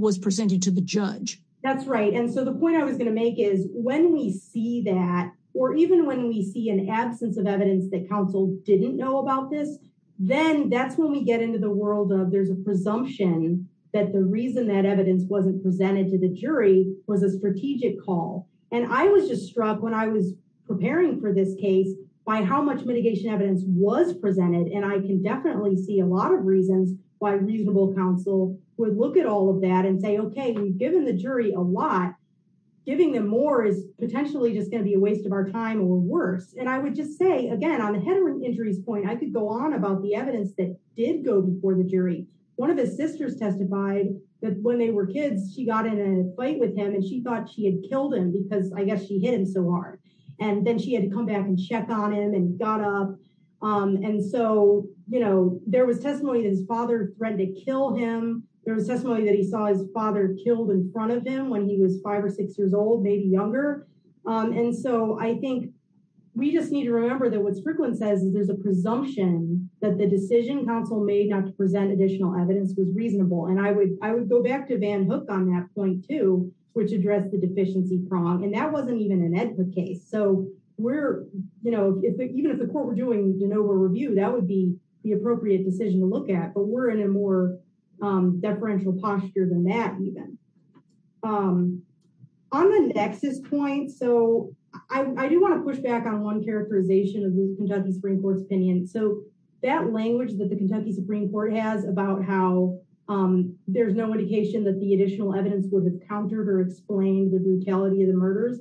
was presented to the judge. That's right, and so the point I was going to make is, when we see that, or even when we see an absence of evidence that counsel didn't know about this, then that's when we get into the world of, there's a presumption that the reason that evidence wasn't presented to the jury was a strategic call. And I was just struck when I was preparing for this case by how much mitigation evidence was presented, and I can definitely see a lot of reasons why reasonable counsel would look at all of that and say, okay, we've given the jury a lot. Giving them more is potentially just going to be a waste of our time or worse. And I would just say, again, on the heteron injuries point, I could go on about the evidence that did go before the jury. One of his sisters testified that when they were kids, she got in a fight with him, and she thought she had killed him because, I guess, she hit him so hard. And then she had to come back and check on him and got up, and so there was testimony that his father threatened to kill him. There was testimony that he saw his father killed in front of him when he was five or six years old, maybe younger. And so I think we just need to remember that what Strickland says is there's a presumption that the decision counsel made not to present additional evidence was reasonable, and I would go back to Van Hook on that point, too, which addressed the deficiency prong, and that wasn't even an Edward case. So we're, you know, even if the court were doing de novo review, that would be the appropriate decision to look at, but we're in a more deferential posture than that, even. On the nexus point, so I do want to push back on one characterization of the Kentucky Supreme Court's opinion. So that language that the Kentucky Supreme Court has about how there's no indication that the additional evidence would have countered or explained the brutality of the murders,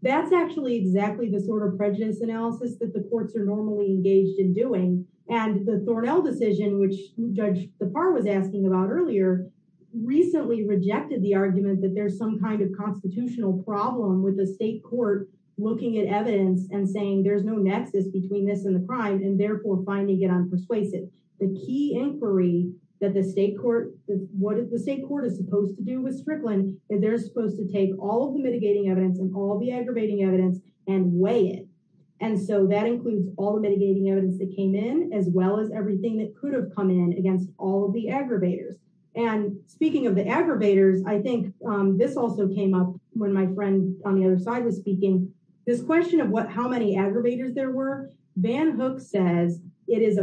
that's actually exactly the sort of prejudice analysis that the courts are normally engaged in doing, and the Thornell decision, which Judge Zafar was asking about earlier, recently rejected the argument that there's some kind of constitutional problem with the state court looking at evidence and saying there's no nexus between this and the crime, and therefore finding it unpersuasive. The key inquiry that the state court, what the state court is supposed to do with Strickland is they're supposed to take all of the mitigating evidence and all the aggravating evidence and weigh it. And so that includes all the mitigating evidence that came in, as well as everything that could have come in against all of the aggravators. And speaking of the aggravators, I think this also came up when my friend on the other side was speaking, this question of how many aggravators there were, Van Burke says it is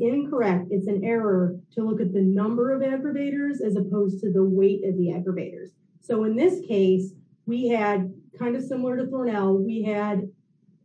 incorrect, it's an error to look at the number of aggravators as opposed to the weight of the aggravators. So in this case, we had, kind of similar to Thornell, we had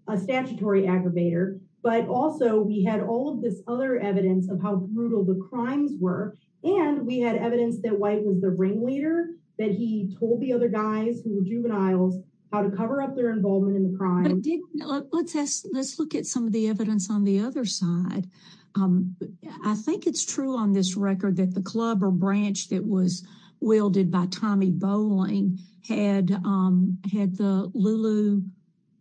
a statutory aggravator, but also we had all of this other evidence of how brutal the crimes were, and we had evidence that White was the ring leader, that he told the other guys who were juveniles how to cover up their involvement in the crime. Let's look at some of the evidence on the other side. I think it's true on this record that the club or branch that was wielded by Tommy Bowling had the Lulu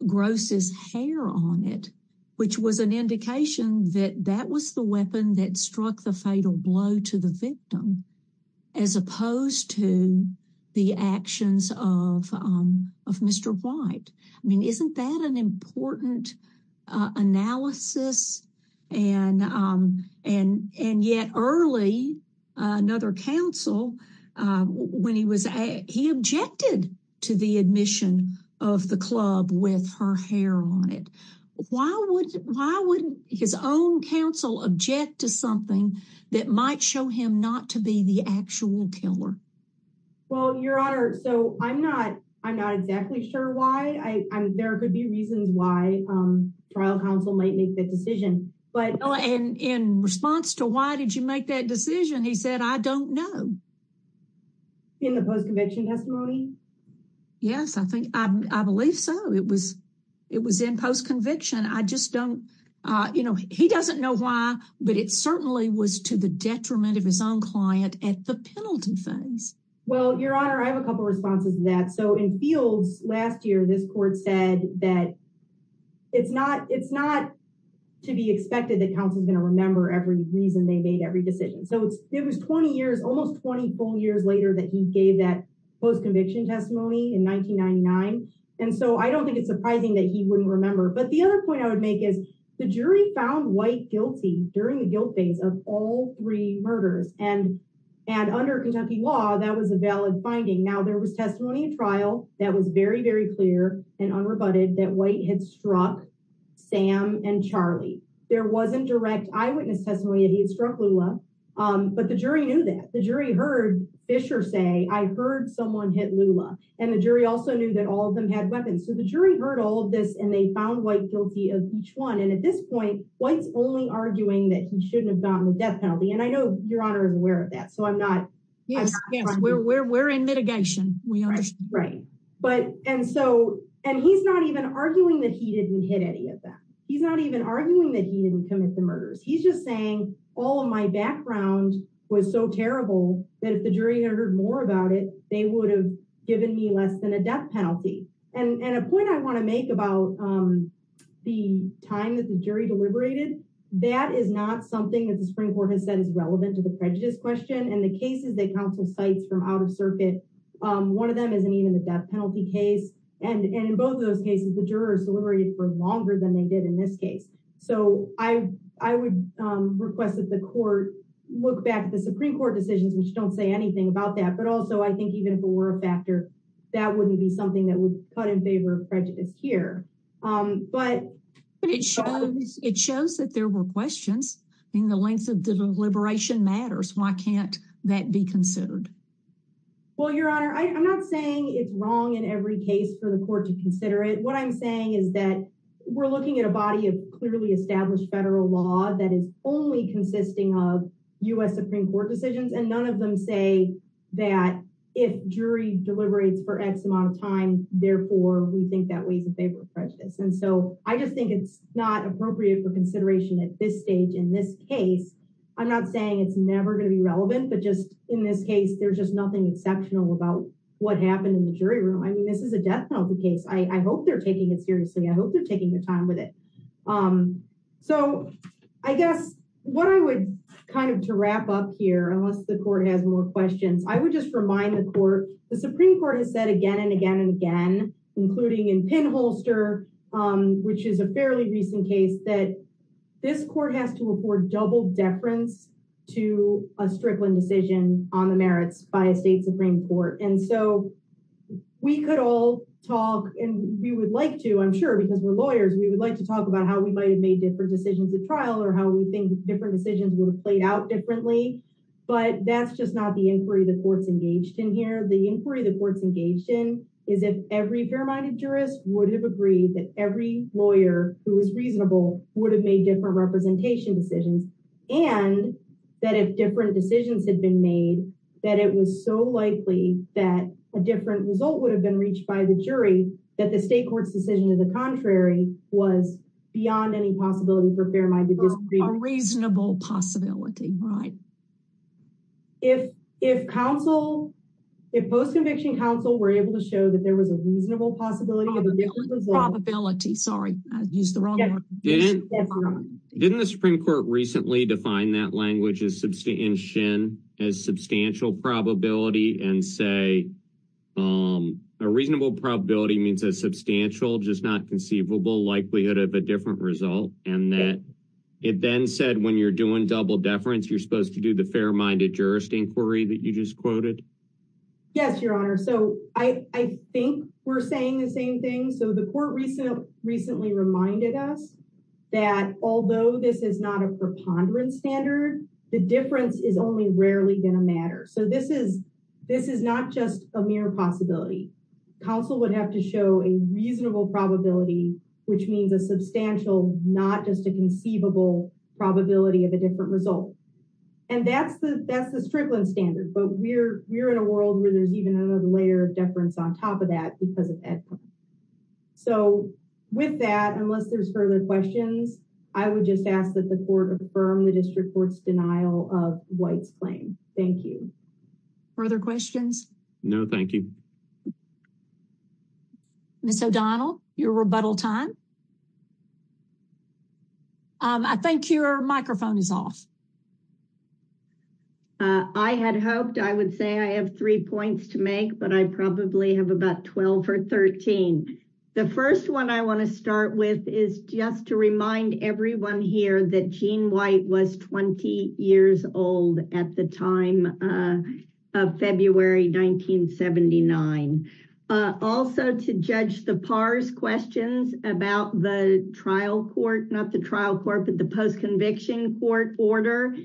Gross' hair on it, which was an indication that that was the weapon that struck the fatal blow to the victim, as opposed to the actions of Mr. White. I mean, isn't that an important analysis? And yet early, another counsel, he objected to the admission of the club with her hair on it. Why would his own counsel object to something that might show him not to be the actual killer? Well, Your Honor, I'm not exactly sure why. There could be reasons why trial counsel might make that decision. In response to why did you make that decision, he said, I don't know. In the post-conviction testimony? Yes, I believe so. It was in post-conviction. He doesn't know why, but it certainly was to the detriment of his own client at the time. And so I don't think it's surprising that he wouldn't remember. But the other point I would make is the jury found White guilty during the guilt phase of all three murders. And under Kentucky law, that was a valid finding. Now, there was testimony in trial that was very, very clear and unrebutted that White had struck Sam and Charlie. There wasn't direct eyewitness testimony that he had struck Lula. But the jury knew that. The jury heard Fisher say, I heard someone hit Lula. And the jury also knew that all of them had weapons. So the jury heard all of this, and they found White guilty of each one. And at this point, White's only arguing that he shouldn't have gotten the death penalty. And I know Your Honor is aware of that, so I'm not Yes, we're in mitigation. Right. And so, and he's not even arguing that he didn't hit any of them. He's not even arguing that he didn't commit the murders. He's just saying, all of my background was so terrible that if the jury had heard more about it, they would have given me less than a death penalty. And a point I want to make about the time that the jury deliberated, that is not something that the Supreme Court has said is relevant to the prejudice question. And the cases that counsel cites from out of circuit, one of them isn't even the death penalty case. And in both of those cases, the jurors deliberated for longer than they did in this case. So I would request that the court look back at the Supreme Court decisions, which don't say anything about that. But also, I think even if it were a factor, that wouldn't be something that would cut in favor of prejudice here. But it shows that there were questions, and the length of deliberation matters. Why can't that be considered? Well, Your Honor, I'm not saying it's wrong in every case for the court to consider it. What I'm saying is that we're looking at a body of clearly established federal law that is only consisting of U.S. Supreme Court decisions, and none of them say that if jury deliberates for X amount of time, therefore, we think that weighs in favor of prejudice. And so, I just think it's not appropriate for consideration at this stage in this case. I'm not saying it's never going to be relevant, but just, in this case, there's just nothing exceptional about what happened in the jury room. I mean, this is a death penalty case. I hope they're taking it seriously. I hope they're taking their time with it. So, I guess, what I would kind of, to wrap up here, unless the court has more questions, I would just remind the court, the Supreme Court has said again and again and again, including in Penholster, which is a fairly recent case, that this court has to afford double deference to a Strickland decision on the merits by a state Supreme Court. And so, we could all talk, and we would like to, I'm sure, because we're lawyers, we would like to talk about how we might have made different decisions at trial, or how we think different decisions would have played out differently, but that's just not the inquiry the court's engaged in here. The inquiry the court's engaged in is if every fair-minded jurist would have agreed that every lawyer who was reasonable would have made different representation decisions, and that if different decisions had been made, that it was so likely that a different result would have been reached by the jury, that the state court's decision to the contrary was beyond any possibility for fair-minded jurists. A reasonable possibility, right. If counsel, if post-conviction counsel were able to show that there was a reasonable possibility of a different result. Probability, sorry, I used the wrong word. Didn't the Supreme Court recently define that language in Shin as substantial probability and say a reasonable probability means a substantial, just not conceivable, likelihood of a different result, and that it then said when you're doing double deference, you're supposed to do the fair-minded jurist inquiry that you just quoted? Yes, Your Honor. So I think we're saying the same thing. So the court recently reminded us that although this is not a preponderance standard, the difference is only rarely going to matter. So this is not just a mere possibility. Counsel would have to show a reasonable probability, which means a substantial, not just a conceivable probability of a different result. And that's the Strickland standard, but we're in a world where there's even another layer of deference on top of that because of that. So with that, unless there's further questions, I would just ask that the court affirm the district court's denial of White's claim. Thank you. Further questions? No, thank you. Ms. O'Donnell, your rebuttal time. I think your microphone is off. I had hoped I would say I have three points to make, but I probably have about 12 or 13. The first one I want to start with is just to remind everyone here that Gene White was 20 years old at the time of February 1979. Also to judge the PARS questions about the trial court, not the trial court, but the postconviction court order.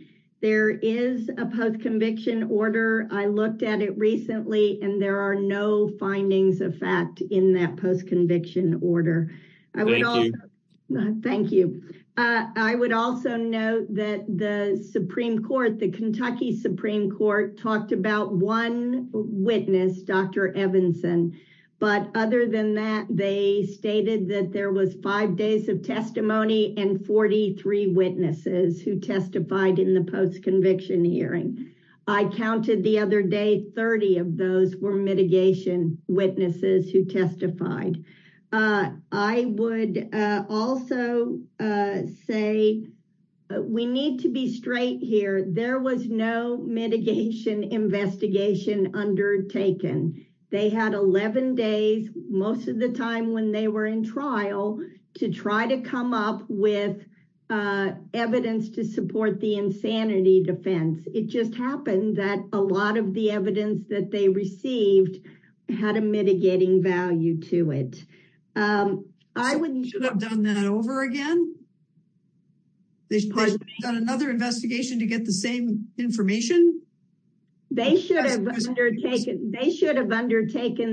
There is a postconviction order. I looked at it recently, and there are no findings of fact in that postconviction order. Thank you. I would also note that the Supreme Court, the Kentucky Supreme Court, talked about one witness, Dr. Evanson. But other than that, they said that there was five days of testimony and 43 witnesses who testified in the postconviction hearing. I counted the other day 30 of those were mitigation witnesses who testified. I would also say we need to be straight here. There was no mitigation investigation undertaken. They had 11 days, most of the time when they were in trial, to try to come up with evidence to support the insanity defense. It just happened that a lot of the evidence that they received had a mitigating value to it. They should have done that over again? They should have done another investigation to get the same information? They should have undertaken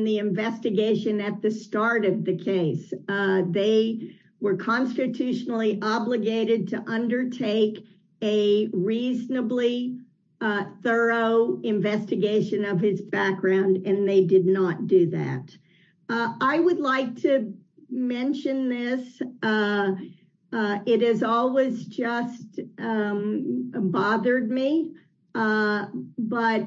the investigation at the start of the case. They were constitutionally obligated to undertake a reasonably thorough investigation of his background and they did not do that. I would like to mention this. It has always just bothered me, but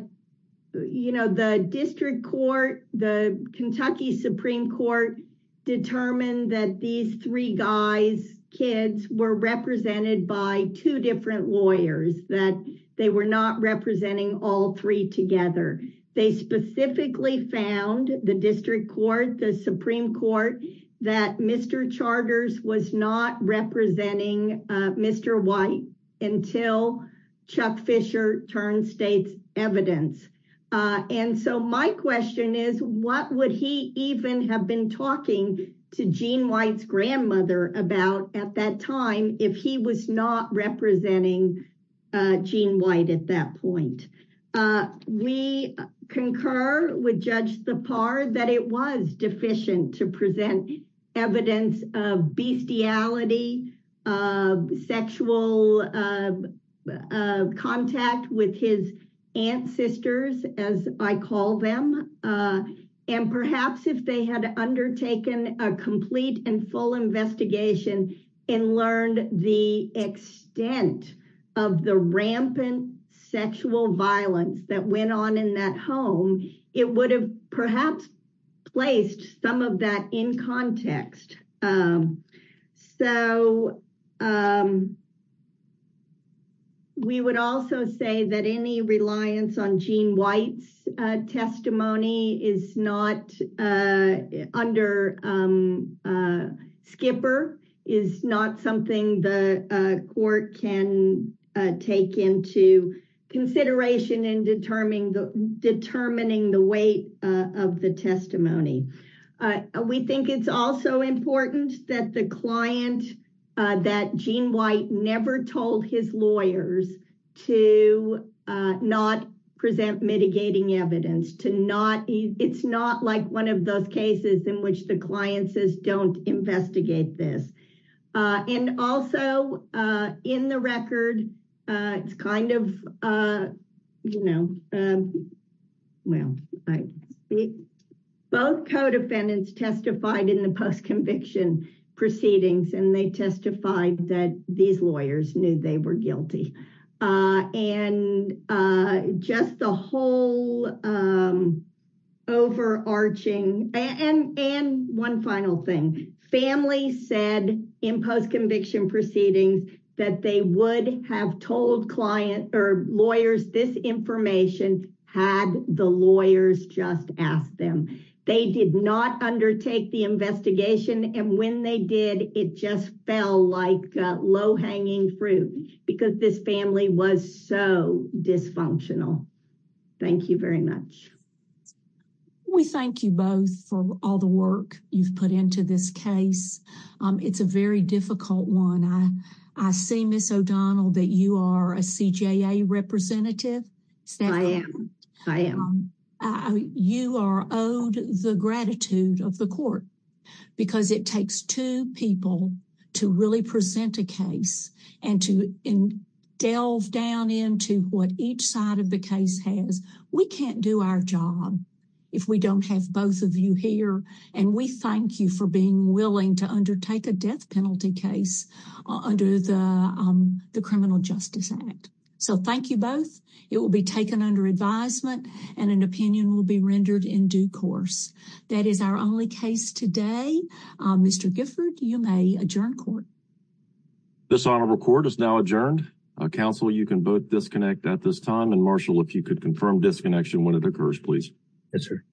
the district court, the Kentucky Supreme Court determined that these three guys, kids, were represented by two different lawyers, that they were not representing all three together. They specifically found the district court, the Supreme Court, that Mr. Charters was not representing Mr. White until Chuck Fisher turned state's My question is, what would he even have been talking to Gene White's grandmother about at that time if he was not representing Gene White at that point? We concur with Judge Sipar that it was deficient to present evidence of bestiality, sexual contact with his ancestors, as I call them, and perhaps if they had undertaken a complete and full investigation and learned the extent of the rampant sexual violence that went on in that home, it would have perhaps placed some of that in context. So we would also say that any reliance on Gene White's testimony is not under Skipper, is not something the court can take into consideration in determining the weight of the testimony. We think it's also important that the client that Gene White never told his lawyers to not present mitigating evidence, to not, it's not like one of those cases in which the client says don't investigate this. And also in the record it's kind of, you know, well, both co-defendants testified in the post-conviction proceedings and they testified that these lawyers knew they were guilty. And just the whole overarching and one final thing, families said in post-conviction proceedings that they would have told client or lawyers this investigation had the lawyers just asked them. They did not undertake the investigation and when they did, it just fell like low-hanging fruit because this family was so dysfunctional. Thank you very much. We thank you both for all the work you've put into this case. It's a very difficult one. I see Ms. O'Donnell that you are a CJA representative. I am. You are owed the gratitude of the court because it takes two people to really present a case and to delve down into what each side of the case has. We can't do our job if we don't have both of you here and we thank you for being willing to undertake a death penalty case under the Criminal Justice Act. Thank you both. It will be taken under advisement and an opinion will be rendered in due course. That is our only case today. Mr. Gifford, you may adjourn court. This honorable court is now adjourned. Counsel, you can both disconnect at this time and Marshall, if you could confirm disconnection when it occurs, please. Yes, sir.